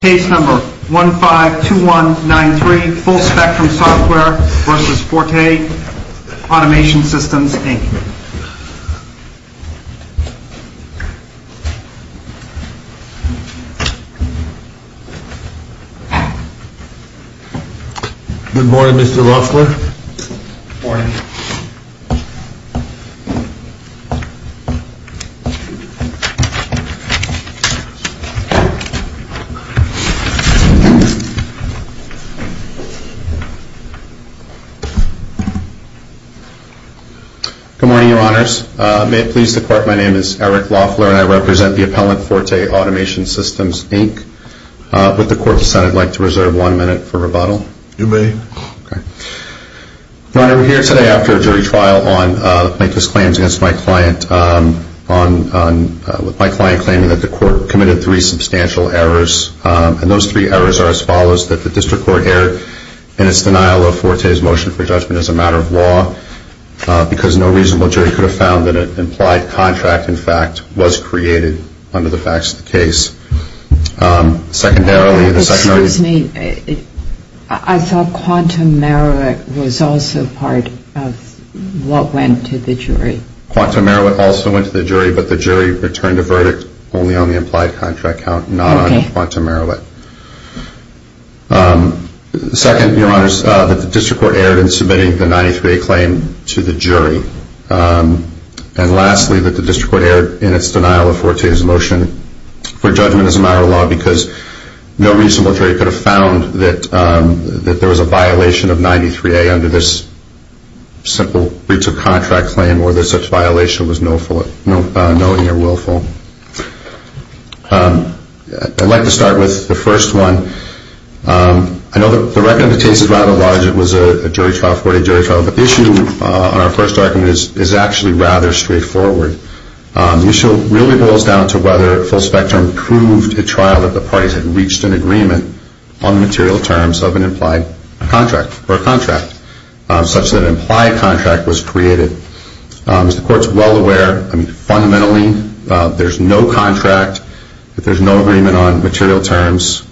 Case No. 152193 Full Spectrum Software v. Forte Automation Systems, Inc. Good morning, Mr. Roessler. Morning. Good morning, Your Honors. May it please the Court, my name is Eric Loeffler, and I represent the appellant, Forte Automation Systems, Inc. Would the Court decide I'd like to reserve one minute for rebuttal? You may. Okay. Your Honor, we're here today after a jury trial with my client claiming that the court committed three substantial errors. And those three errors are as follows. That the district court erred in its denial of Forte's motion for judgment as a matter of law because no reasonable jury could have found that an implied contract, in fact, was created under the facts of the case. Secondarily, the secondary... Excuse me. I thought Quantum Merowick was also part of what went to the jury. Quantum Merowick also went to the jury, but the jury returned a verdict only on the implied contract count, not on Quantum Merowick. Second, Your Honors, that the district court erred in submitting the 93A claim to the jury. And lastly, that the district court erred in its denial of Forte's motion for judgment as a matter of law because no reasonable jury could have found that there was a violation of 93A under this simple breach of contract claim or that such violation was knowingly or willfully. I'd like to start with the first one. I know the record of the case is rather large. It was a jury trial, a Forte jury trial. But the issue on our first argument is actually rather straightforward. The issue really boils down to whether full spectrum proved at trial that the parties had reached an agreement on the material terms of an implied contract or a contract such that an implied contract was created. As the court's well aware, fundamentally, there's no contract. If there's no agreement on material terms,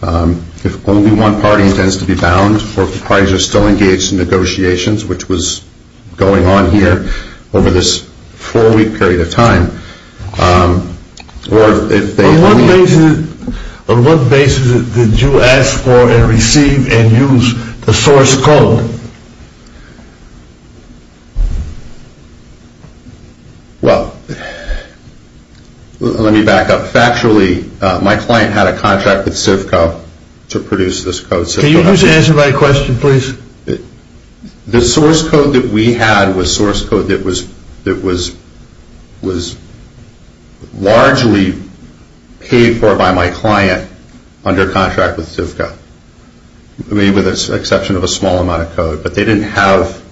if only one party intends to be bound or if the parties are still engaged in negotiations, which was going on here over this four-week period of time, or if they only... On what basis did you ask for and receive and use the source code? Well, let me back up. Factually, my client had a contract with CIVCO to produce this code. Can you just answer my question, please? The source code that we had was source code that was largely paid for by my client under contract with CIVCO, with the exception of a small amount of code. But they didn't have,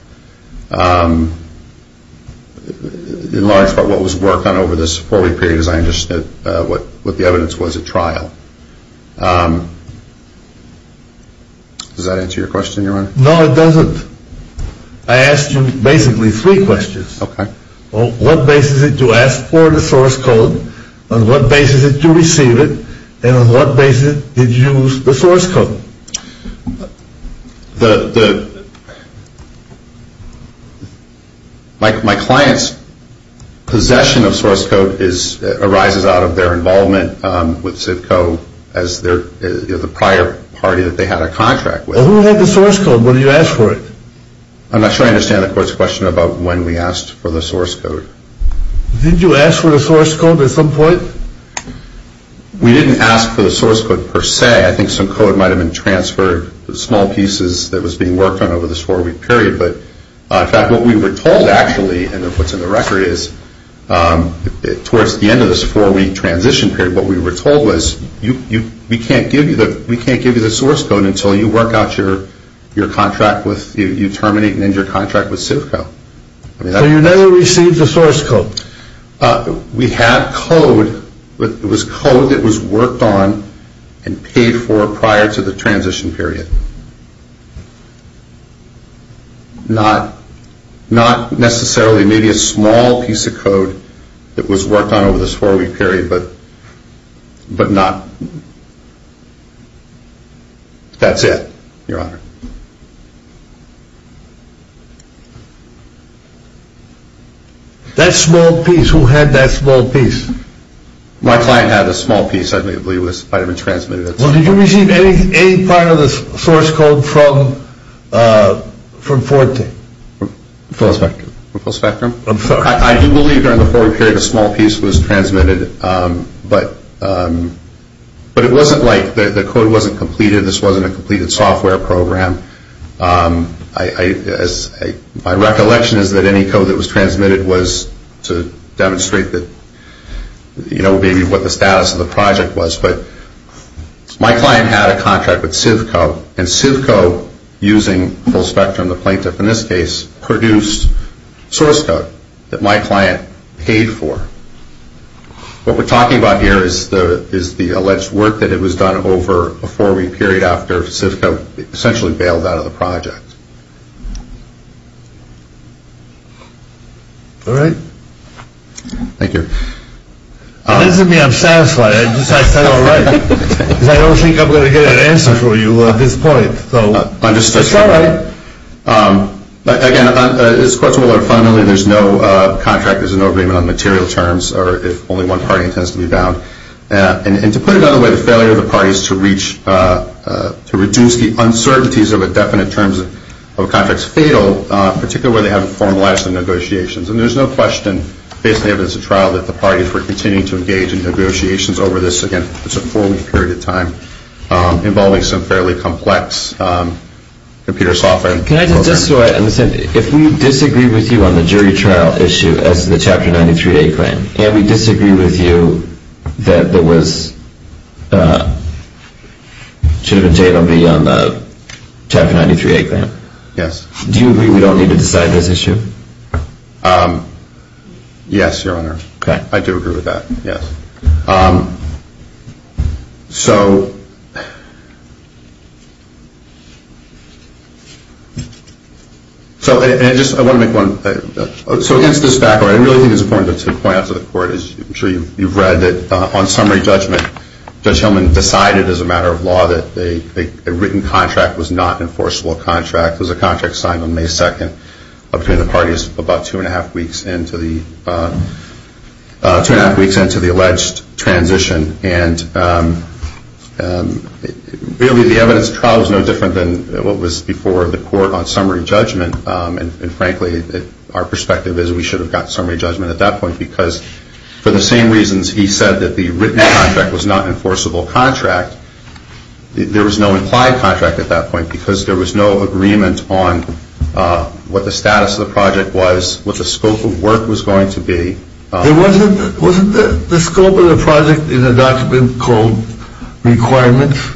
in large part, what was worked on over this four-week period, as I understood what the evidence was at trial. Does that answer your question, Your Honor? No, it doesn't. I asked you basically three questions. Okay. On what basis did you ask for the source code? On what basis did you receive it? And on what basis did you use the source code? My client's possession of source code arises out of their involvement with CIVCO as the prior party that they had a contract with. Well, who had the source code? What did you ask for it? I'm not sure I understand the Court's question about when we asked for the source code. Didn't you ask for the source code at some point? We didn't ask for the source code per se. I think some code might have been transferred, small pieces that was being worked on over this four-week period. But, in fact, what we were told actually, and what's in the record is, towards the end of this four-week transition period, what we were told was, we can't give you the source code until you work out your contract with, you terminate and end your contract with CIVCO. So you never received the source code? No. We had code, but it was code that was worked on and paid for prior to the transition period. Not necessarily, maybe a small piece of code that was worked on over this four-week period, but not, that's it, Your Honor. That small piece, who had that small piece? My client had a small piece, I believe, that might have been transmitted. Well, did you receive any part of the source code from Forte? From Full Spectrum. From Full Spectrum? I'm sorry. I do believe during the four-week period, a small piece was transmitted, but it wasn't like, the code wasn't completed, this wasn't a completed software program. My recollection is that any code that was transmitted was to demonstrate that, you know, maybe what the status of the project was, but my client had a contract with CIVCO, and CIVCO, using Full Spectrum, the plaintiff in this case, produced source code that my client paid for. What we're talking about here is the alleged work that was done over a four-week period after CIVCO essentially bailed out of the project. All right. Thank you. It doesn't mean I'm satisfied, I just said all right. I don't think I'm going to get an answer from you at this point, so it's all right. Again, this is a question of whether, fundamentally, there's no contract, there's no agreement on material terms, or if only one party intends to be bound. And to put it another way, the failure of the parties to reach, to reduce the uncertainties of the definite terms of a contract is fatal, particularly when they haven't formalized the negotiations. And there's no question, based on the evidence of trial, that the parties were continuing to engage in negotiations over this, again, it's a four-week period of time, involving some fairly complex computer software. Can I just, just so I understand, if we disagree with you on the jury trial issue as the Chapter 93A claim, and we disagree with you that there was, should have been table B on the Chapter 93A claim. Yes. Do you agree we don't need to decide this issue? Yes, Your Honor. Okay. I do agree with that, yes. So, and I just, I want to make one, so against this background, I really think it's important to point out to the Court, as I'm sure you've read, that on summary judgment, Judge Hillman decided, as a matter of law, that a written contract was not an enforceable contract. It was a contract signed on May 2nd, between the parties about two and a half weeks into the alleged transition. And really, the evidence of trial is no different than what was before the Court on summary judgment. And frankly, our perspective is we should have gotten summary judgment at that point, because for the same reasons he said that the written contract was not an enforceable contract, there was no implied contract at that point, because there was no agreement on what the status of the project was, what the scope of work was going to be. Wasn't the scope of the project in the document called requirements?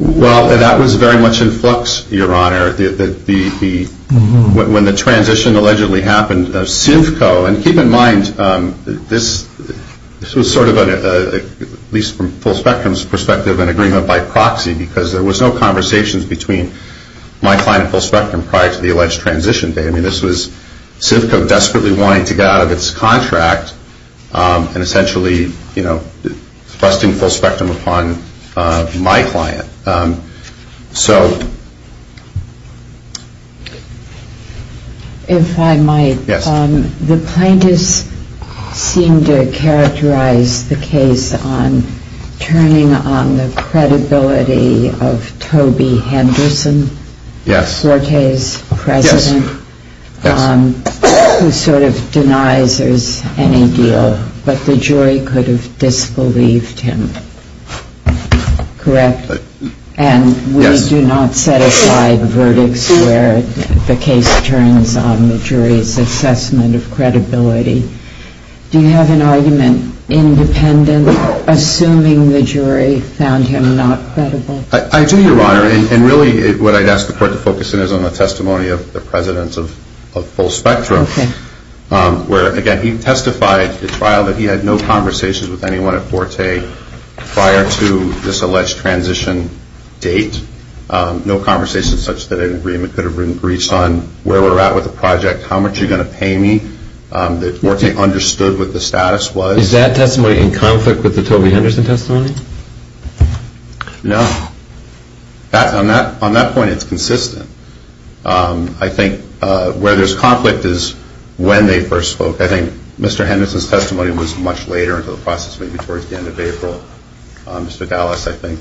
Well, that was very much in flux, Your Honor. When the transition allegedly happened, CIVCO, and keep in mind, this was sort of, at least from Full Spectrum's perspective, an agreement by proxy, because there was no conversations between my client and Full Spectrum prior to the alleged transition day. I mean, this was CIVCO desperately wanting to get out of its contract and essentially, you know, trusting Full Spectrum upon my client. So... If I might. Yes. The plaintiffs seem to characterize the case on turning on the credibility of Toby Henderson. Yes. Forte's president. Yes. Who sort of denies there's any deal, but the jury could have disbelieved him. Correct? Yes. They do not set aside verdicts where the case turns on the jury's assessment of credibility. Do you have an argument independent, assuming the jury found him not credible? I do, Your Honor. And really, what I'd ask the court to focus in is on the testimony of the president of Full Spectrum. Okay. Where, again, he testified at trial that he had no conversations with anyone at Forte prior to this alleged transition date, no conversations such that an agreement could have been reached on where we're at with the project, how much you're going to pay me, that Forte understood what the status was. Is that testimony in conflict with the Toby Henderson testimony? No. On that point, it's consistent. I think where there's conflict is when they first spoke. I think Mr. Henderson's testimony was much later into the process, maybe towards the end of April. Mr. Dallas, I think,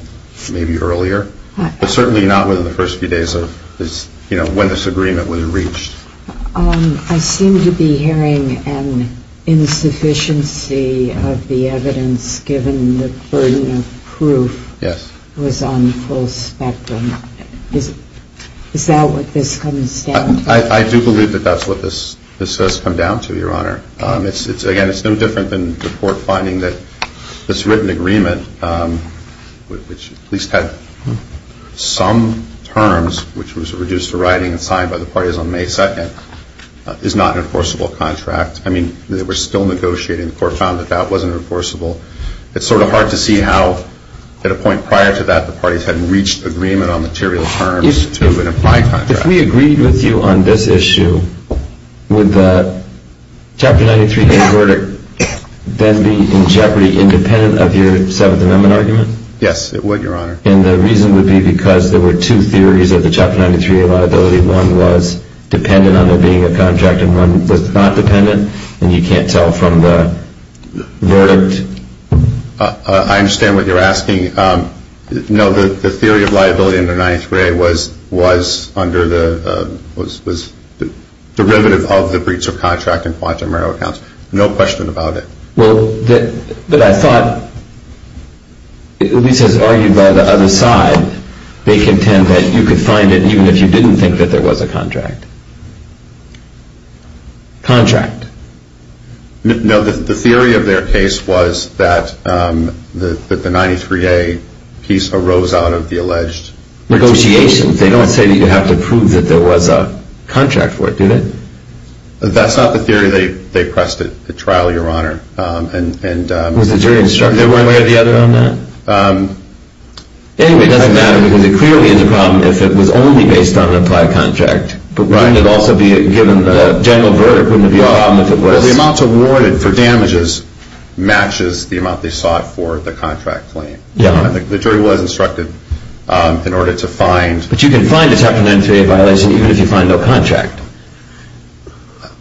maybe earlier. But certainly not within the first few days of when this agreement would have reached. I seem to be hearing an insufficiency of the evidence, given the burden of proof. Yes. It was on Full Spectrum. Is that what this comes down to? I do believe that that's what this has come down to, Your Honor. Again, it's no different than the court finding that this written agreement, which at least had some terms, which was reduced to writing and signed by the parties on May 2nd, is not an enforceable contract. I mean, they were still negotiating. The court found that that wasn't enforceable. It's sort of hard to see how, at a point prior to that, the parties hadn't reached agreement on material terms to an implied contract. If we agreed with you on this issue, would the Chapter 93A verdict then be in jeopardy, independent of your Seventh Amendment argument? Yes, it would, Your Honor. And the reason would be because there were two theories of the Chapter 93A liability. One was dependent on there being a contract, and one was not dependent? And you can't tell from the verdict? I understand what you're asking. No, the theory of liability in the 93A was under the derivative of the breach of contract in Guantanamo counts. No question about it. Well, but I thought, at least as argued by the other side, they contend that you could find it even if you didn't think that there was a contract. Contract. No, the theory of their case was that the 93A piece arose out of the alleged breach of contract. Negotiation. They don't say that you have to prove that there was a contract for it, do they? That's not the theory. They pressed it at trial, Your Honor. Was the jury instructor aware of the other on that? Anyway, it doesn't matter, because it clearly is a problem if it was only based on an implied contract. But wouldn't it also be, given the general verdict, wouldn't it be a problem if it was? Well, the amount awarded for damages matches the amount they sought for the contract claim. Yeah. The jury was instructed in order to find. But you can find a Chapter 93A violation even if you find no contract.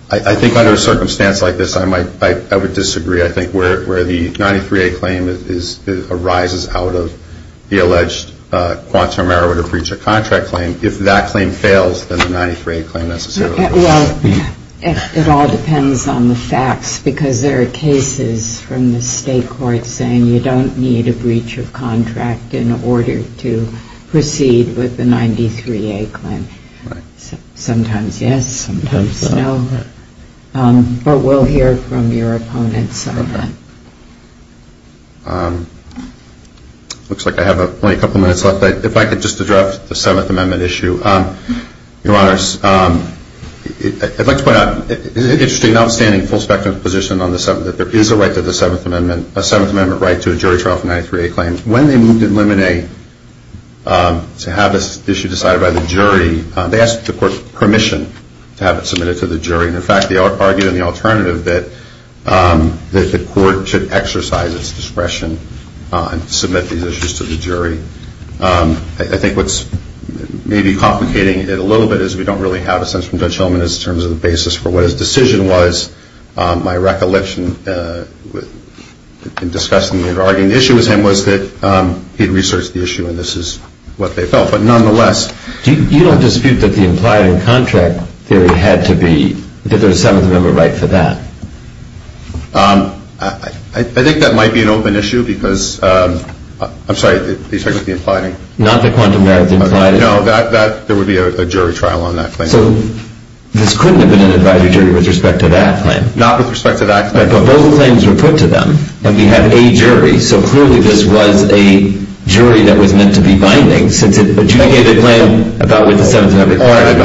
I think under a circumstance like this, I would disagree. I think where the 93A claim arises out of the alleged Guantanamo marijuana breach of contract claim, if that claim fails, then the 93A claim necessarily fails. Well, it all depends on the facts, because there are cases from the state court saying you don't need a breach of contract in order to proceed with the 93A claim. Right. Sometimes yes, sometimes no. But we'll hear from your opponents on that. It looks like I have only a couple of minutes left. If I could just address the Seventh Amendment issue. Your Honors, I'd like to point out, it's an interesting, outstanding, full-spectrum position that there is a right to the Seventh Amendment, a Seventh Amendment right to a jury trial for a 93A claim. When they moved in Lemonade to have this issue decided by the jury, they asked the court permission to have it submitted to the jury. In fact, they argued in the alternative that the court should exercise its discretion and submit these issues to the jury. I think what's maybe complicating it a little bit is we don't really have a sense from Judge Hellman in terms of the basis for what his decision was. My recollection in discussing and arguing the issue with him was that he'd researched the issue, and this is what they felt. You don't dispute that the implied in contract theory had to be, that there's a Seventh Amendment right for that? I think that might be an open issue because, I'm sorry, are you talking about the implied? Not the quantum merits implied? No, there would be a jury trial on that claim. So this couldn't have been an advisory jury with respect to that claim? Not with respect to that claim. So clearly this was a jury that was meant to be binding since it adjudicated a claim about what the Seventh Amendment required.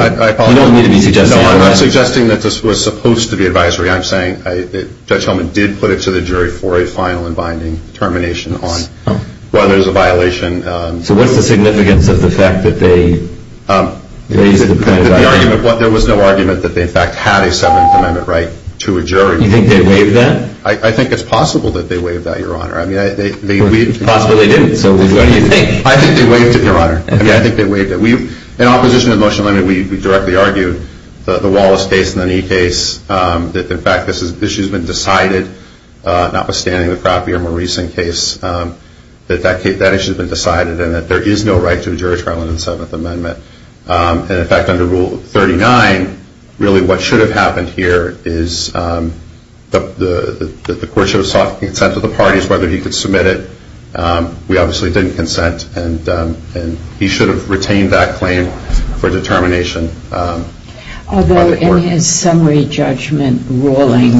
You don't need to be suggesting that. No, I'm not suggesting that this was supposed to be advisory. I'm saying that Judge Hellman did put it to the jury for a final and binding termination on whether there's a violation. So what's the significance of the fact that they waived it? There was no argument that they, in fact, had a Seventh Amendment right to a jury. You think they waived that? I think it's possible that they waived that, Your Honor. Possibly they didn't, so what do you think? I think they waived it, Your Honor. I think they waived it. In opposition to the motion, we directly argued the Wallace case and the Knee case, that, in fact, this issue has been decided, notwithstanding the Crappier-Mauricean case, that that issue has been decided and that there is no right to a jury trial in the Seventh Amendment. And, in fact, under Rule 39, really what should have happened here is that the court should have sought consent of the parties, whether he could submit it. We obviously didn't consent, and he should have retained that claim for determination. Although in his summary judgment ruling,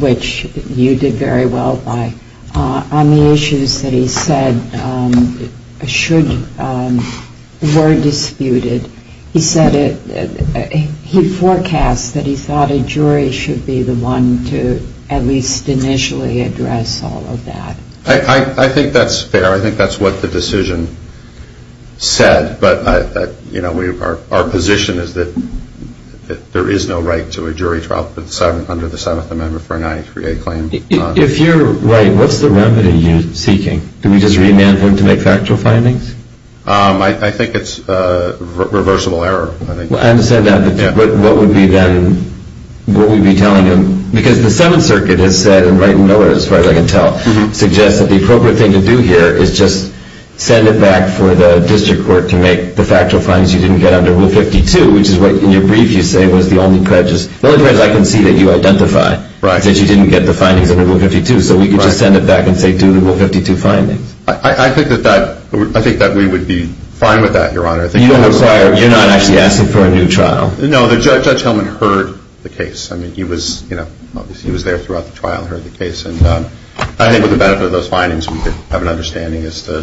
which you did very well by, on the issues that he said were disputed, he forecast that he thought a jury should be the one to at least initially address all of that. I think that's fair. I think that's what the decision said. But our position is that there is no right to a jury trial under the Seventh Amendment for a 93A claim. If you're right, what's the remedy you're seeking? Do we just remand him to make factual findings? I think it's reversible error. I understand that, but what would we be telling him? Because the Seventh Circuit has said, and Wright and Miller, as far as I can tell, suggests that the appropriate thing to do here is just send it back for the district court to make the factual findings you didn't get under Rule 52, which is what, in your brief, you say was the only prejudice. As far as I can see that you identify that you didn't get the findings under Rule 52, so we could just send it back and say do the Rule 52 findings. I think that we would be fine with that, Your Honor. You're not actually asking for a new trial? No. Judge Hellman heard the case. He was there throughout the trial and heard the case. I think with the benefit of those findings, we could have an understanding as to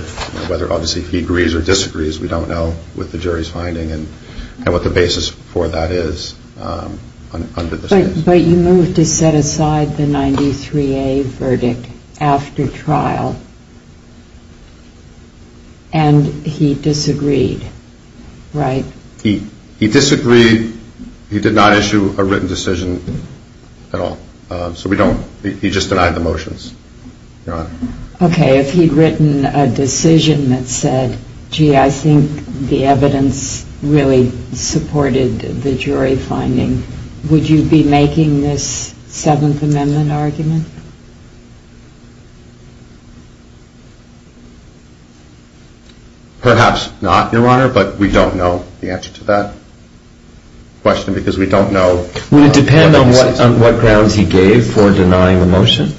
whether, obviously, he agrees or disagrees. We don't know with the jury's finding and what the basis for that is under this case. But you moved to set aside the 93A verdict after trial, and he disagreed, right? He disagreed. He did not issue a written decision at all. So we don't. He just denied the motions, Your Honor. Okay, if he'd written a decision that said, gee, I think the evidence really supported the jury finding, would you be making this Seventh Amendment argument? Perhaps not, Your Honor, but we don't know the answer to that question because we don't know. Would it depend on what grounds he gave for denying the motion?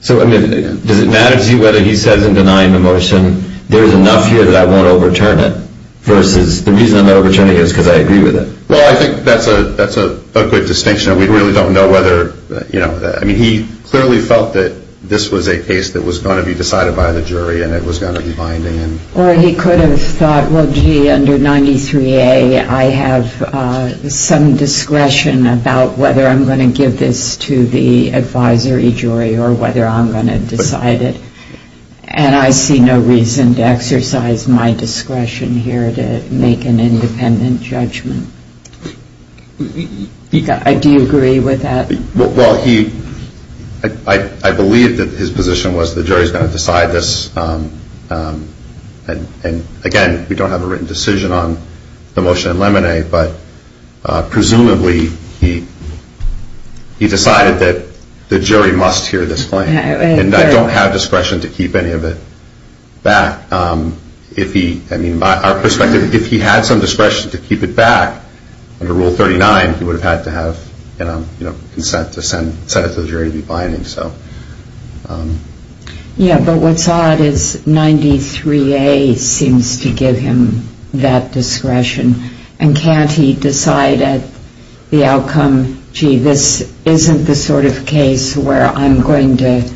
So, I mean, does it matter to you whether he says in denying the motion, there's enough here that I won't overturn it versus the reason I'm not overturning it is because I agree with it? Well, I think that's a good distinction. We really don't know whether, you know, I mean, he clearly felt that this was a case that was going to be decided by the jury and it was going to be binding. Or he could have thought, well, gee, under 93A, I have some discretion about whether I'm going to give this to the advisory jury or whether I'm going to decide it, and I see no reason to exercise my discretion here to make an independent judgment. Do you agree with that? Well, he, I believe that his position was the jury's going to decide this, and again, we don't have a written decision on the motion in Lemonade, but presumably he decided that the jury must hear this claim. And I don't have discretion to keep any of it back. If he, I mean, our perspective, if he had some discretion to keep it back, under Rule 39, he would have had to have, you know, consent to send it to the jury to be binding, so. Yeah, but what's odd is 93A seems to give him that discretion, and can't he decide at the outcome, gee, this isn't the sort of case where I'm going to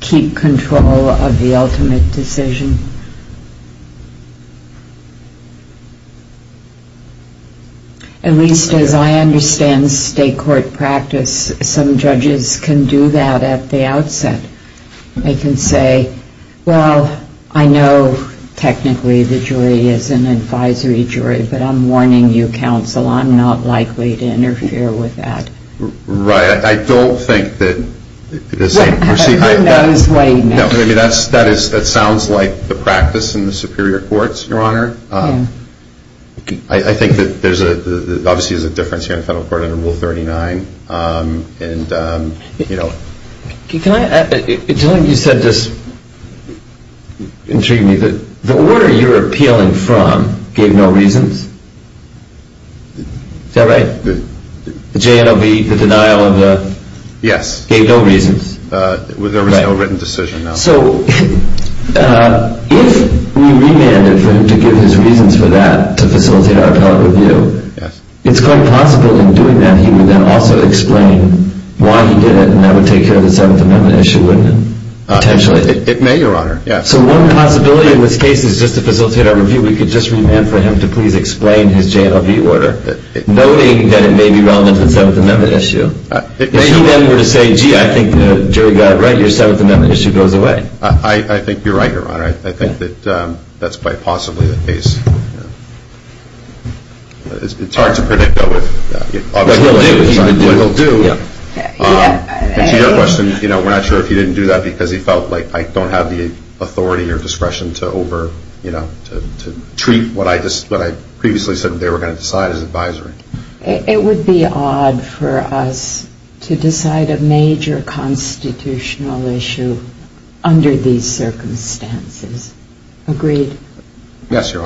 keep control of the ultimate decision? At least as I understand state court practice, some judges can do that at the outset. They can say, well, I know technically the jury is an advisory jury, but I'm warning you, counsel, I'm not likely to interfere with that. Right, I don't think that, you see, that sounds like the practice in the superior courts, Your Honor. I think that there's a, obviously there's a difference here in federal court under Rule 39, and, you know. Can I, it sounded like you said this intrigued me, that the order you're appealing from gave no reasons. Is that right? The JNLB, the denial of the, gave no reasons. There was no written decision, no. So, if we remanded for him to give his reasons for that, to facilitate our appellate review, it's quite possible in doing that he would then also explain why he did it, and that would take care of the Seventh Amendment issue, wouldn't it, potentially? It may, Your Honor. So one possibility in this case is just to facilitate our review, we could just remand for him to please explain his JNLB order, noting that it may be relevant to the Seventh Amendment issue. If he then were to say, gee, I think the jury got it right, your Seventh Amendment issue goes away. I think you're right, Your Honor. I think that that's quite possibly the case. It's hard to predict, though, what he'll do. To your question, we're not sure if he didn't do that because he felt like, I don't have the authority or discretion to over, you know, to treat what I previously said they were going to decide as advisory. It would be odd for us to decide a major constitutional issue under these circumstances. Agreed? Yes, Your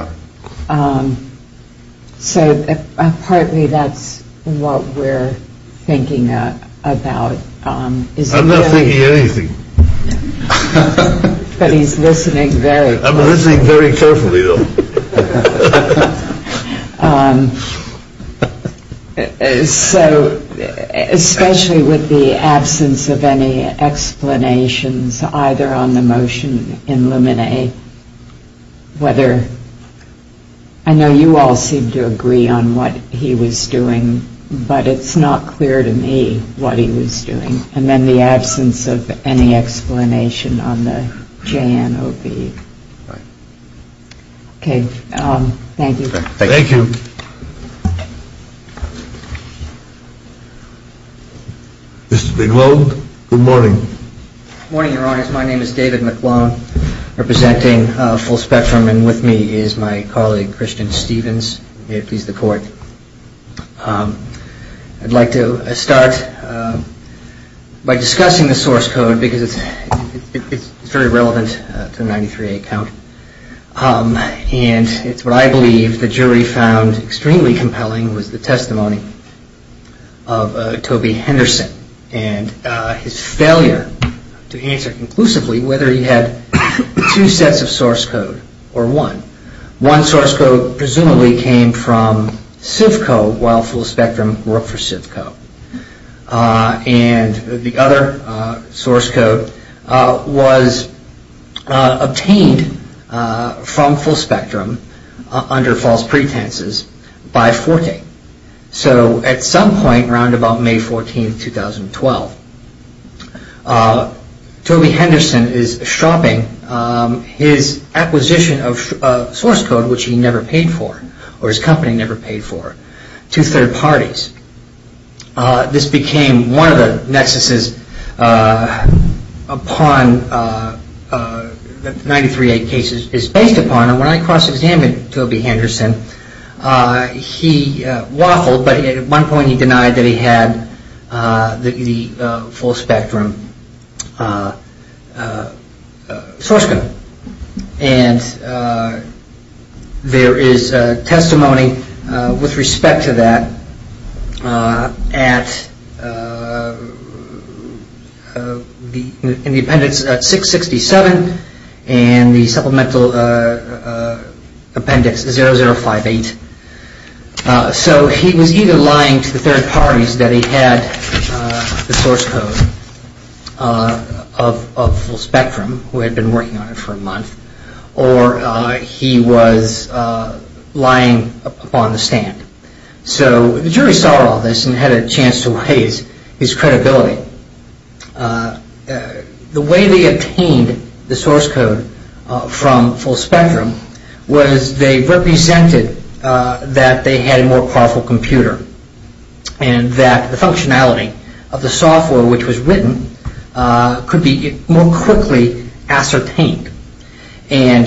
Honor. So partly that's what we're thinking about. I'm not thinking anything. But he's listening very closely. I'm listening very carefully, though. So especially with the absence of any explanations either on the motion in Luminae, whether I know you all seem to agree on what he was doing, but it's not clear to me what he was doing. And then the absence of any explanation on the JNOB. Right. Okay. Thank you. Thank you. Mr. McClone, good morning. Good morning, Your Honors. My name is David McClone, representing Full Spectrum, and with me is my colleague, Christian Stevens, if he's the court. I'd like to start by discussing the source code because it's very relevant to the 93-8 count. And it's what I believe the jury found extremely compelling was the testimony of Toby Henderson and his failure to answer conclusively whether he had two sets of source code or one. One source code presumably came from CIVCO while Full Spectrum worked for CIVCO. And the other source code was obtained from Full Spectrum under false pretenses by FORTE. So at some point around about May 14, 2012, Toby Henderson is shropping his acquisition of source code, which he never paid for, or his company never paid for, to third parties. This became one of the nexuses that the 93-8 case is based upon. And when I cross-examined Toby Henderson, he waffled, but at one point he denied that he had the Full Spectrum source code. And there is testimony with respect to that in the appendix 667 and the supplemental appendix 0058. And so he was either lying to the third parties that he had the source code of Full Spectrum, who had been working on it for a month, or he was lying upon the stand. So the jury saw all this and had a chance to weigh his credibility. The way they obtained the source code from Full Spectrum was they represented that they had a more powerful computer and that the functionality of the software which was written could be more quickly ascertained. And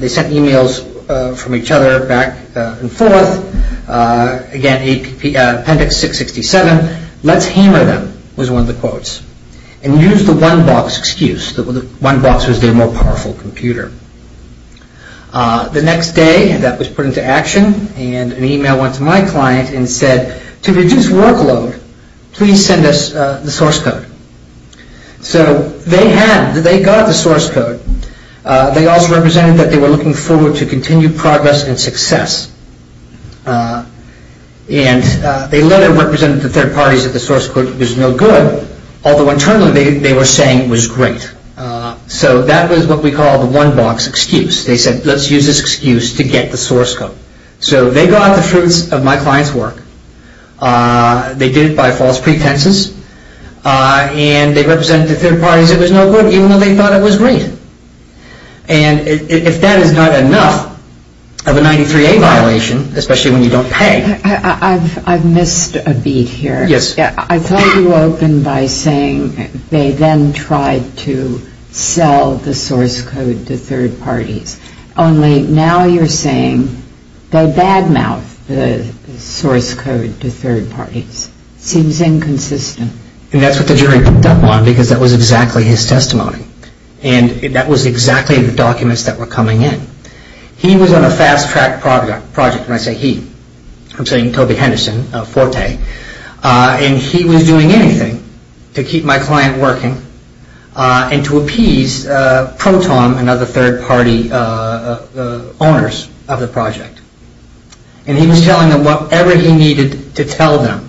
they sent emails from each other back and forth. Again, appendix 667, let's hammer them, was one of the quotes. And use the one box excuse that the one box was their more powerful computer. The next day that was put into action and an email went to my client and said, to reduce workload, please send us the source code. So they had, they got the source code. They also represented that they were looking forward to continued progress and success. And they later represented the third parties that the source code was no good, although internally they were saying it was great. So that was what we call the one box excuse. They said, let's use this excuse to get the source code. So they got the fruits of my client's work. They did it by false pretenses. And they represented the third parties it was no good, even though they thought it was great. And if that is not enough of a 93A violation, especially when you don't pay. I've missed a beat here. Yes. I thought you opened by saying they then tried to sell the source code to third parties. Only now you're saying they bad mouth the source code to third parties. Seems inconsistent. And that's what the jury picked up on because that was exactly his testimony. And that was exactly the documents that were coming in. He was on a fast track project, and I say he. I'm saying Toby Henderson, Forte. And he was doing anything to keep my client working and to appease Proton, another third party owners of the project. And he was telling them whatever he needed to tell them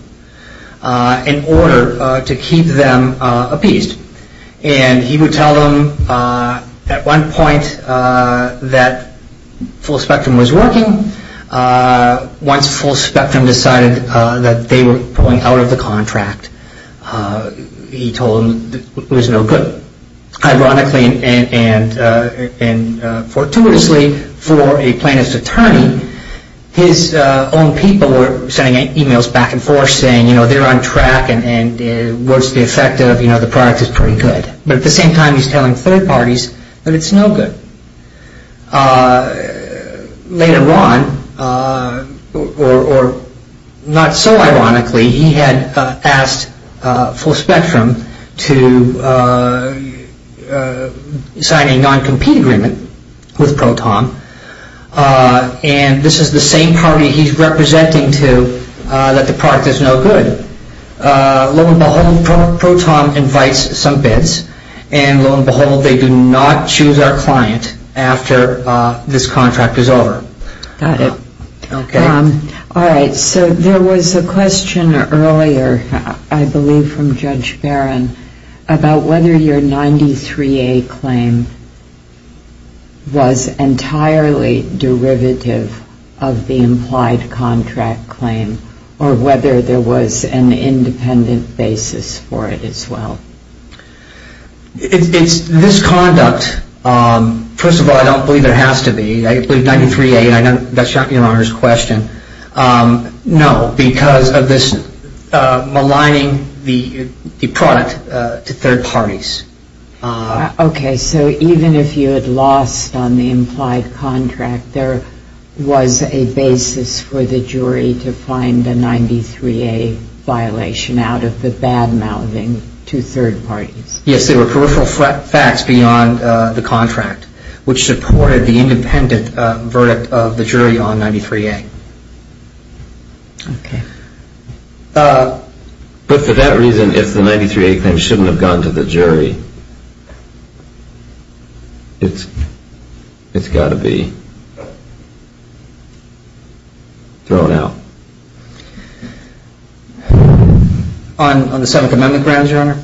in order to keep them appeased. And he would tell them at one point that Full Spectrum was working. Once Full Spectrum decided that they were pulling out of the contract, he told them it was no good. Ironically and fortuitously for a plaintiff's attorney, his own people were sending emails back and forth saying they're on track and what's the effect of the product is pretty good. But at the same time he's telling third parties that it's no good. Later on, or not so ironically, he had asked Full Spectrum to sign a non-compete agreement with Proton. And this is the same party he's representing to that the product is no good. Lo and behold, Proton invites some bids. And lo and behold, they do not choose our client after this contract is over. Got it. Okay. All right. So there was a question earlier, I believe from Judge Barron, about whether your 93A claim was entirely derivative of the implied contract claim or whether there was an independent basis for it as well. It's misconduct. First of all, I don't believe there has to be. I believe 93A, that's not your Honor's question. No, because of this maligning the product to third parties. Okay. So even if you had lost on the implied contract, there was a basis for the jury to find a 93A violation out of the bad-mouthing to third parties? Yes, there were peripheral facts beyond the contract, which supported the independent verdict of the jury on 93A. Okay. But for that reason, if the 93A claim shouldn't have gone to the jury, it's got to be thrown out. On the Seventh Amendment grounds, Your Honor?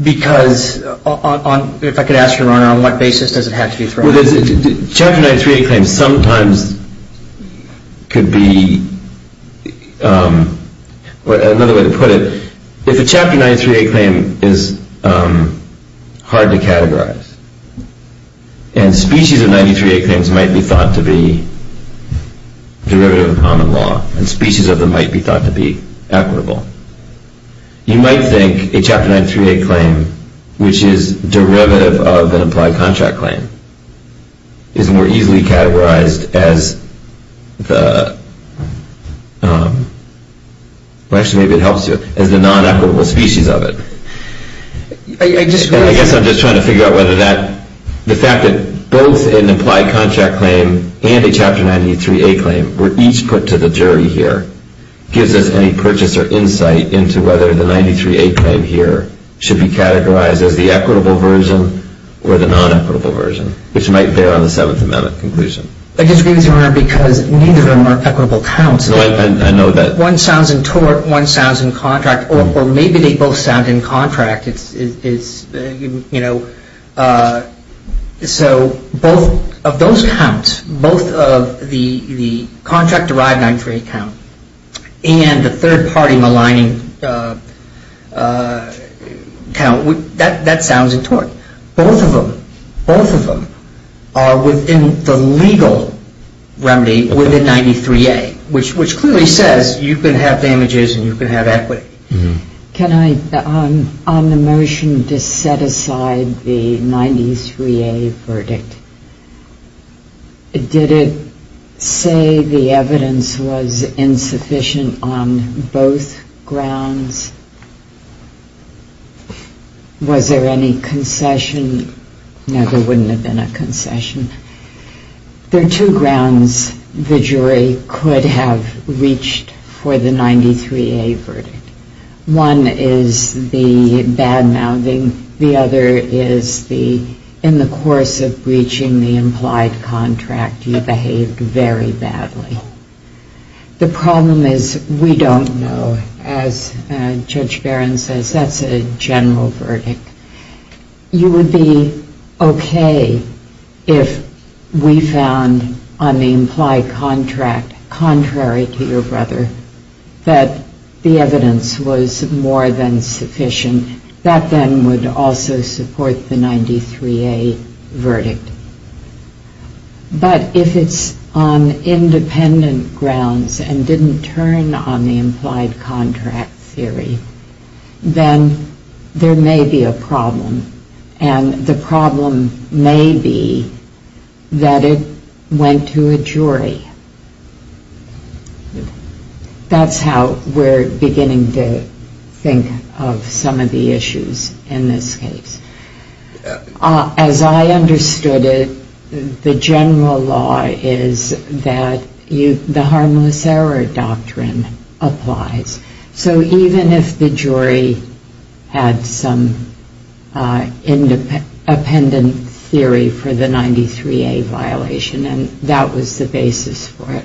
Because if I could ask Your Honor, on what basis does it have to be thrown out? Chapter 93A claims sometimes could be, another way to put it, if a Chapter 93A claim is hard to categorize and species of 93A claims might be thought to be derivative of common law and species of them might be thought to be equitable, you might think a Chapter 93A claim, which is derivative of an implied contract claim, is more easily categorized as the, well, actually, maybe it helps you, as the non-equitable species of it. I disagree. I guess I'm just trying to figure out whether that, the fact that both an implied contract claim and a Chapter 93A claim were each put to the jury here gives us any purchase or insight into whether the 93A claim here should be categorized as the equitable version or the non-equitable version, which might bear on the Seventh Amendment conclusion. I disagree with you, Your Honor, because neither of them are equitable counts. No, I know that. One sounds in tort, one sounds in contract, or maybe they both sound in contract. It's, you know, so both of those counts, both of the contract-derived 93A count and the third-party maligning count, that sounds in tort. Both of them, both of them are within the legal remedy within 93A, which clearly says you can have damages and you can have equity. Can I, on the motion to set aside the 93A verdict, did it say the evidence was insufficient on both grounds? Was there any concession? No, there wouldn't have been a concession. There are two grounds the jury could have reached for the 93A verdict. One is the badmouthing. The other is the, in the course of breaching the implied contract, you behaved very badly. The problem is we don't know. As Judge Barron says, that's a general verdict. You would be okay if we found on the implied contract, contrary to your brother, that the evidence was more than sufficient. That then would also support the 93A verdict. But if it's on independent grounds and didn't turn on the implied contract theory, then there may be a problem. And the problem may be that it went to a jury. That's how we're beginning to think of some of the issues in this case. As I understood it, the general law is that the harmless error doctrine applies. So even if the jury had some independent theory for the 93A violation, and that was the basis for it,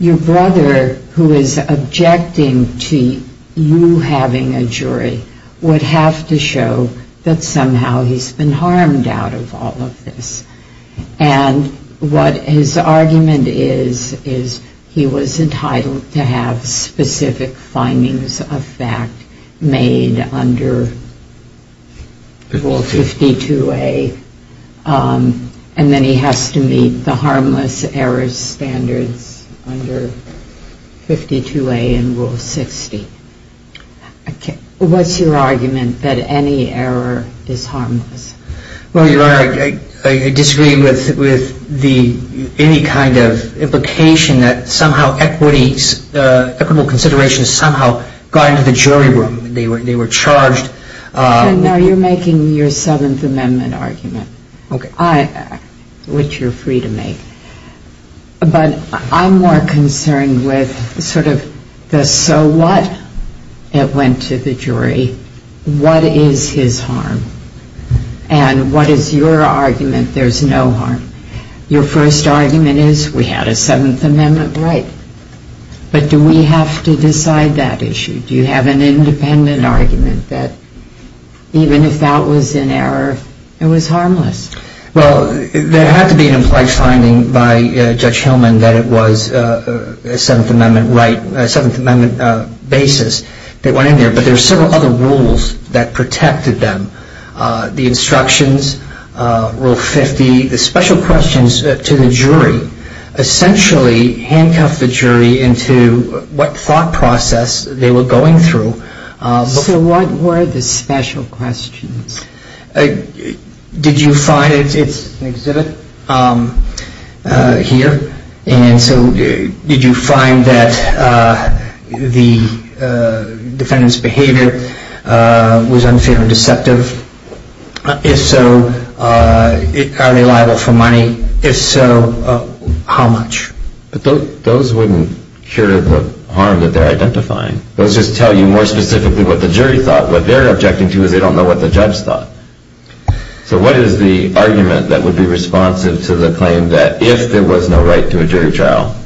your brother, who is objecting to you having a jury, would have to show that somehow he's been harmed out of all of this. And what his argument is, is he was entitled to have specific findings of fact made under Rule 52A, and then he has to meet the harmless error standards under 52A and Rule 60. What's your argument that any error is harmless? Well, Your Honor, I disagree with any kind of implication that somehow equitable consideration somehow got into the jury room. They were charged. No, you're making your Seventh Amendment argument, which you're free to make. But I'm more concerned with sort of the so what it went to the jury. What is his harm? And what is your argument there's no harm? Your first argument is we had a Seventh Amendment right. But do we have to decide that issue? Do you have an independent argument that even if that was an error, it was harmless? Well, there had to be an implied finding by Judge Hillman that it was a Seventh Amendment basis that went in there. But there were several other rules that protected them. The instructions, Rule 50, the special questions to the jury essentially handcuffed the jury into what thought process they were going through. So what were the special questions? Did you find it's an exhibit here? And so did you find that the defendant's behavior was unfair and deceptive? If so, are they liable for money? If so, how much? Those wouldn't cure the harm that they're identifying. Those just tell you more specifically what the jury thought. What they're objecting to is they don't know what the judge thought. So what is the argument that would be responsive to the claim that if there was no right to a jury trial,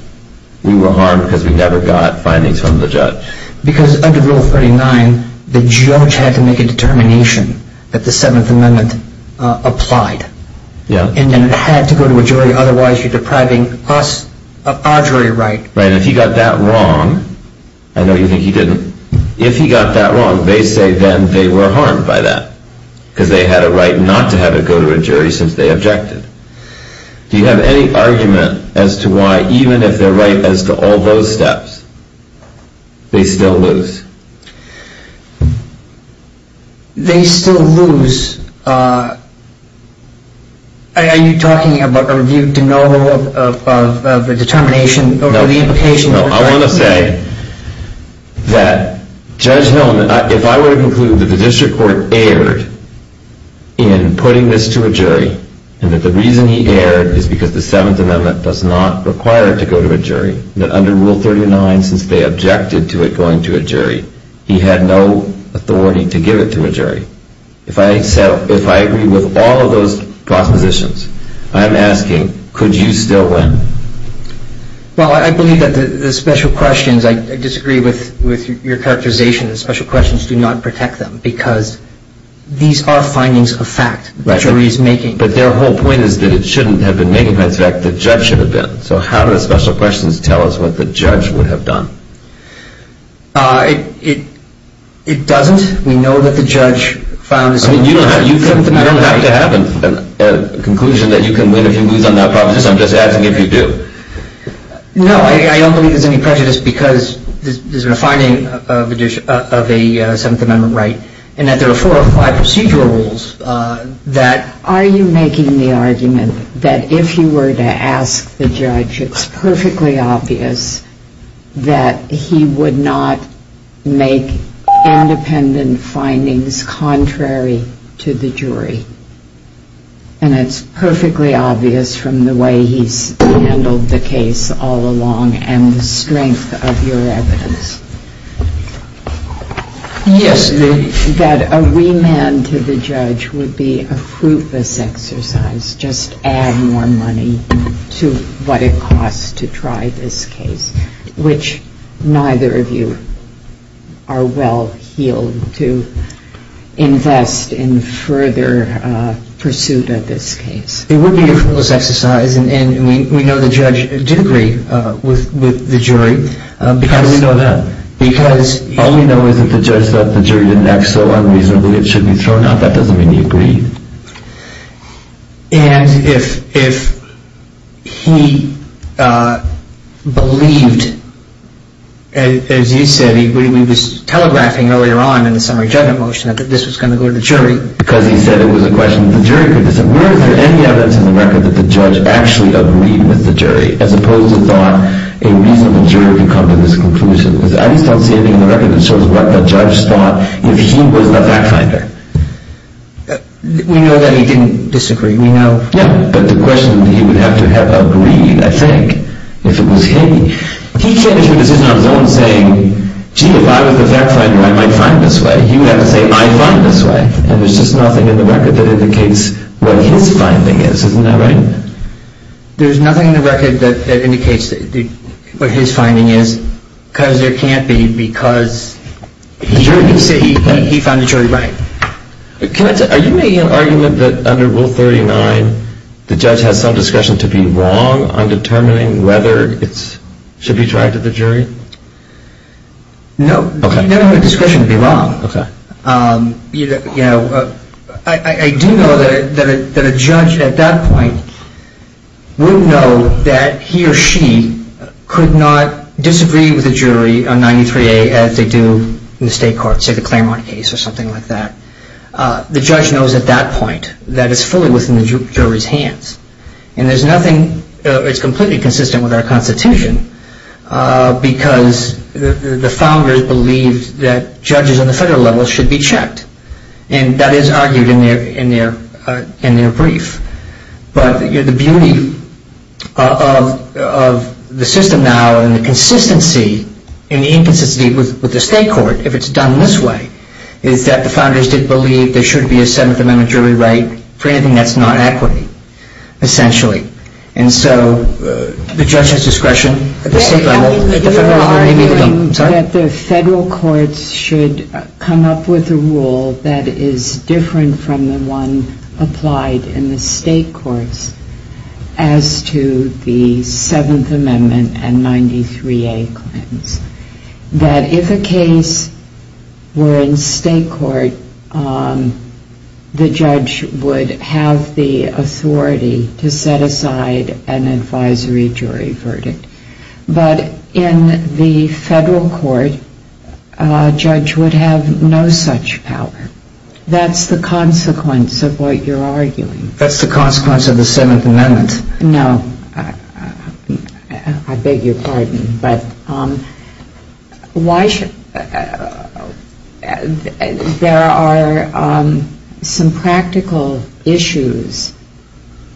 we were harmed because we never got findings from the judge? Because under Rule 39, the judge had to make a determination that the Seventh Amendment applied. And it had to go to a jury, otherwise you're depriving us of our jury right. Right, and if he got that wrong, I know you think he didn't. If he got that wrong, they say then they were harmed by that because they had a right not to have it go to a jury since they objected. Do you have any argument as to why, even if they're right as to all those steps, they still lose? They still lose. Are you talking about a review de novo of the determination or the implication? I want to say that Judge Hillman, if I were to conclude that the district court erred in putting this to a jury and that the reason he erred is because the Seventh Amendment does not require it to go to a jury, that under Rule 39, since they objected to it going to a jury, he had no authority to give it to a jury. If I agree with all of those propositions, I'm asking, could you still win? Well, I believe that the special questions, I disagree with your characterization, the special questions do not protect them because these are findings of fact that the jury is making. But their whole point is that it shouldn't have been making facts of fact, the judge should have been. So how do the special questions tell us what the judge would have done? It doesn't. We know that the judge found his fault. You don't have to have a conclusion that you can win if you lose on that proposition. I'm just asking if you do. No, I don't believe there's any prejudice because there's been a finding of a Seventh Amendment right and that there are four or five procedural rules that... Are you making the argument that if you were to ask the judge, it's perfectly obvious that he would not make independent findings contrary to the jury? And it's perfectly obvious from the way he's handled the case all along and the strength of your evidence? Yes. That a remand to the judge would be a fruitless exercise, just add more money to what it costs to try this case, which neither of you are well-heeled to invest in further pursuit of this case. It would be a fruitless exercise and we know the judge did agree with the jury. How do we know that? Because... All we know is that the judge thought the jury didn't act so unreasonably, it should be thrown out, that doesn't mean he agreed. And if he believed, as you said, we were telegraphing earlier on in the summary judgment motion that this was going to go to the jury... Because he said it was a question of the jury, where is there any evidence in the record that the judge actually agreed with the jury as opposed to thought a reasonable jury could come to this conclusion? I just don't see anything in the record that shows what the judge thought if he was the fact finder. We know that he didn't disagree, we know... Yeah, but the question is he would have to have agreed, I think, if it was him. He came to a decision on his own saying, gee, if I was the fact finder, I might find this way. He would have to say, I find this way. And there's just nothing in the record that indicates what his finding is, isn't that right? There's nothing in the record that indicates what his finding is, because there can't be, because he found the jury right. Are you making an argument that under Rule 39, the judge has some discretion to be wrong on determining whether it should be dragged to the jury? No, you don't have the discretion to be wrong. I do know that a judge at that point would know that he or she could not disagree with the jury on 93A as they do in the state court, say the Claremont case or something like that. The judge knows at that point that it's fully within the jury's hands. And there's nothing, it's completely consistent with our Constitution, because the founders believed that judges on the federal level should be checked. And that is argued in their brief. But the beauty of the system now and the consistency and the inconsistency with the state court, if it's done this way, is that the founders did believe there should be a 7th Amendment jury right for anything that's not equity, essentially. And so the judge has discretion at the state level. I'm arguing that the federal courts should come up with a rule that is different from the one applied in the state courts as to the 7th Amendment and 93A claims. That if a case were in state court, the judge would have the authority to set aside an advisory jury verdict. But in the federal court, a judge would have no such power. That's the consequence of what you're arguing. That's the consequence of the 7th Amendment. No. I beg your pardon. But there are some practical issues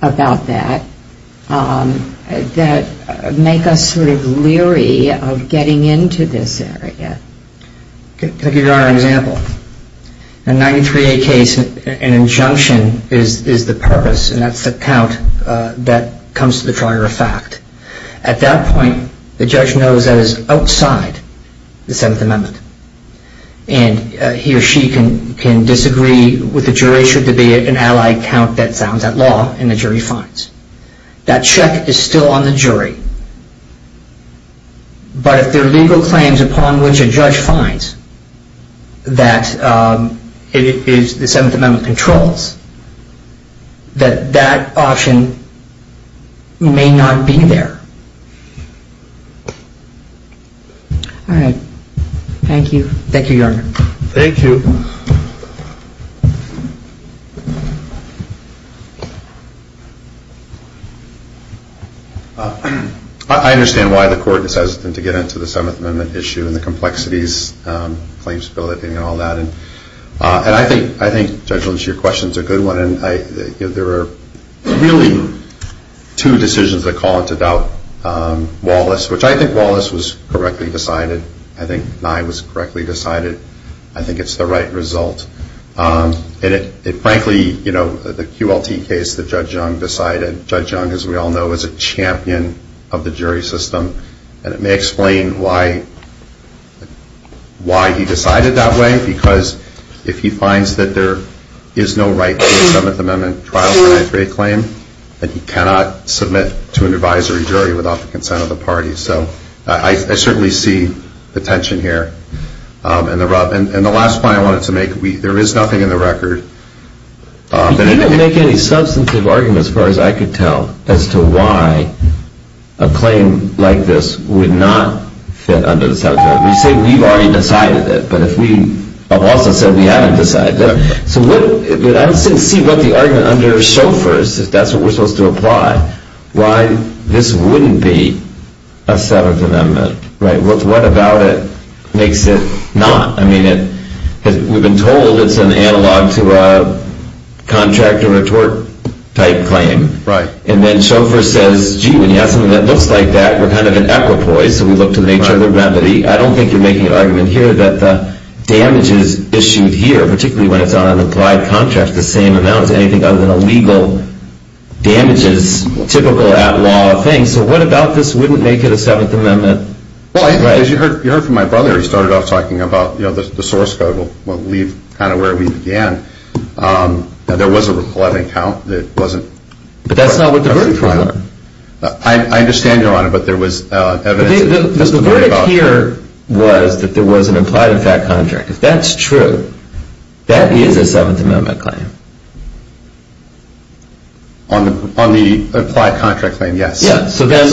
about that that make us sort of leery of getting into this area. Can I give you another example? In a 93A case, an injunction is the purpose. And that's the count that comes to the driver of fact. At that point, the judge knows that it's outside the 7th Amendment. And he or she can disagree with the jury, should there be an allied count that sounds outlawed, and the jury fines. That check is still on the jury. But if there are legal claims upon which a judge finds that the 7th Amendment controls, that that option may not be there. All right. Thank you. Thank you, Your Honor. Thank you. I understand why the court decides not to get into the 7th Amendment issue and the complexities, claimsability and all that. And I think, Judge Lynch, your question is a good one. There are really two decisions that call into doubt Wallace, which I think Wallace was correctly decided. I think Nye was correctly decided. I think it's the right result. And frankly, the QLT case that Judge Young decided, Judge Young, as we all know, is a champion of the jury system. And it may explain why he decided that way, because if he finds that there is no right to a 7th Amendment trial for an i3 claim, then he cannot submit to an advisory jury without the consent of the party. So I certainly see the tension here. And the last point I wanted to make, there is nothing in the record. You didn't make any substantive argument, as far as I could tell, as to why a claim like this would not fit under the 7th Amendment. You say we've already decided it, but if we have also said we haven't decided it. So I would like to see what the argument under chauffeurs, if that's what we're supposed to apply, why this wouldn't be a 7th Amendment. What about it makes it not? I mean, we've been told it's an analog to a contract or a tort type claim. Right. And then chauffeur says, gee, when you have something that looks like that, we're kind of an equipoise, so we look to the nature of the remedy. I don't think you're making an argument here that the damages issued here, particularly when it's on an implied contract, the same amount as anything other than a legal damages, typical at-law thing. So what about this wouldn't make it a 7th Amendment? Well, as you heard from my brother, he started off talking about the source code. We'll leave kind of where we began. There was a 11 count that wasn't. But that's not what the verdict was. I understand, Your Honor, but there was evidence. The verdict here was that there was an implied in fact contract. If that's true, that is a 7th Amendment claim. On the implied contract claim, yes. Yes, so then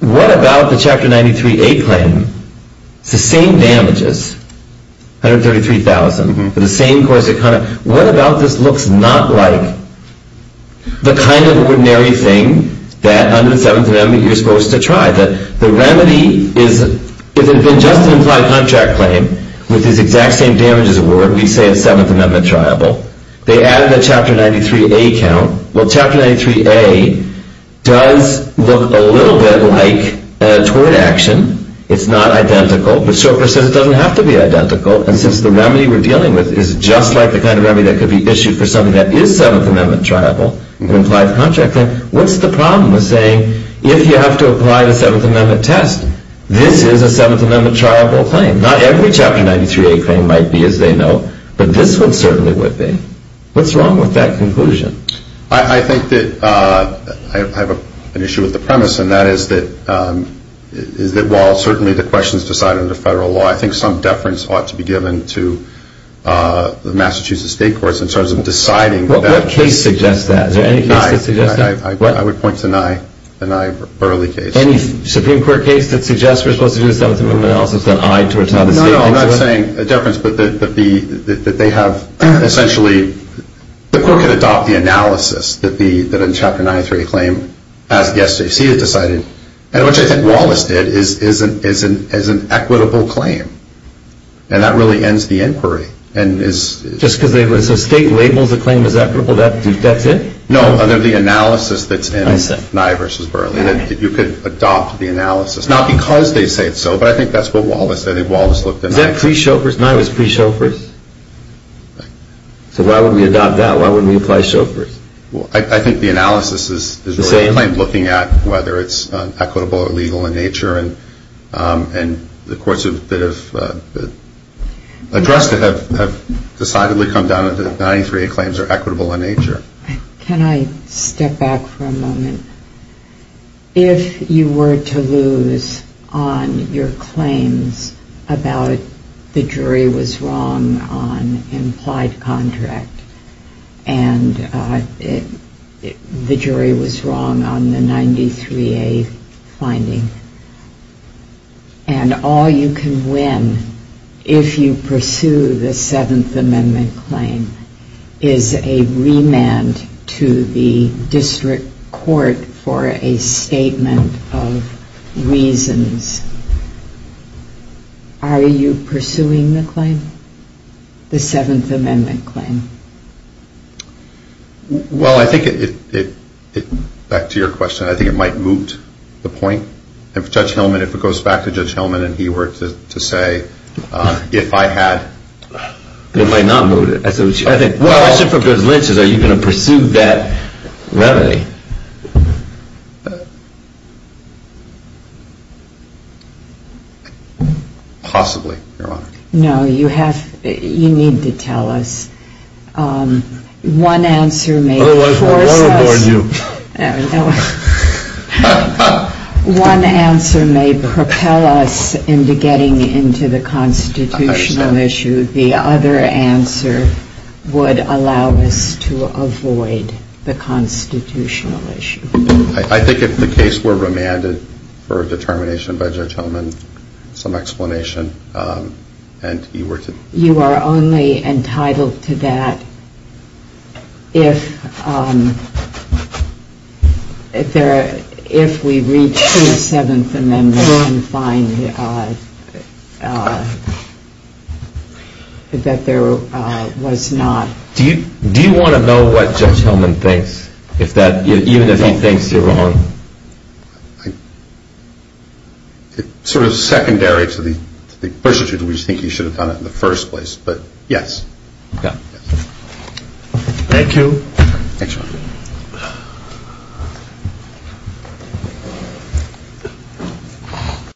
what about the Chapter 93A claim? It's the same damages, $133,000 for the same course of conduct. What about this looks not like the kind of ordinary thing that under the 7th Amendment you're supposed to try? The remedy is if it had been just an implied contract claim with this exact same damages award, we'd say a 7th Amendment triable. They added the Chapter 93A count. Well, Chapter 93A does look a little bit like a tort action. It's not identical, but Stoker says it doesn't have to be identical. And since the remedy we're dealing with is just like the kind of remedy that could be issued for something that is 7th Amendment triable, an implied contract claim, what's the problem with saying if you have to apply the 7th Amendment test, this is a 7th Amendment triable claim? Not every Chapter 93A claim might be, as they know, but this one certainly would be. What's wrong with that conclusion? I think that I have an issue with the premise, and that is that while certainly the question is decided under federal law, I think some deference ought to be given to the Massachusetts State Courts in terms of deciding that. What case suggests that? Is there any case that suggests that? I would point to Nye, the Nye-Burley case. Any Supreme Court case that suggests we're supposed to do the 7th Amendment analysis that's an eye towards how the state thinks about it? No, no, I'm not saying deference, but that they have essentially, the court can adopt the analysis that a Chapter 93A claim, as SJC has decided, and which I think Wallace did, is an equitable claim, and that really ends the inquiry. Just because the state labels the claim as equitable, that's it? No, the analysis that's in Nye v. Burley. You could adopt the analysis, not because they say so, but I think that's what Wallace did. Is that pre-chauffeur's? Nye was pre-chauffeur's? Right. So why would we adopt that? Why wouldn't we apply chauffeur's? I think the analysis is really looking at whether it's equitable or illegal in nature, and the courts have addressed it, have decidedly come down to the 93A claims are equitable in nature. Can I step back for a moment? If you were to lose on your claims about the jury was wrong on implied contract, and the jury was wrong on the 93A finding, and all you can win if you pursue the 7th Amendment claim is a remand to the district court for a statement of reasons, are you pursuing the claim, the 7th Amendment claim? Well, I think it, back to your question, I think it might moot the point. If Judge Hillman, if it goes back to Judge Hillman and he were to say, if I had, it might not moot it. Well, except for if there's lynches, are you going to pursue that remedy? Possibly, Your Honor. No, you have, you need to tell us. One answer may force us. One answer may propel us into getting into the constitutional issue. The other answer would allow us to avoid the constitutional issue. I think if the case were remanded for determination by Judge Hillman, some explanation, and you were to. You are only entitled to that if there, if we reach through the 7th Amendment and find that there was not. Do you want to know what Judge Hillman thinks, if that, even if he thinks you're wrong? I, sort of secondary to the question, we think you should have done it in the first place, but yes. Okay. Thank you. Thanks, Your Honor.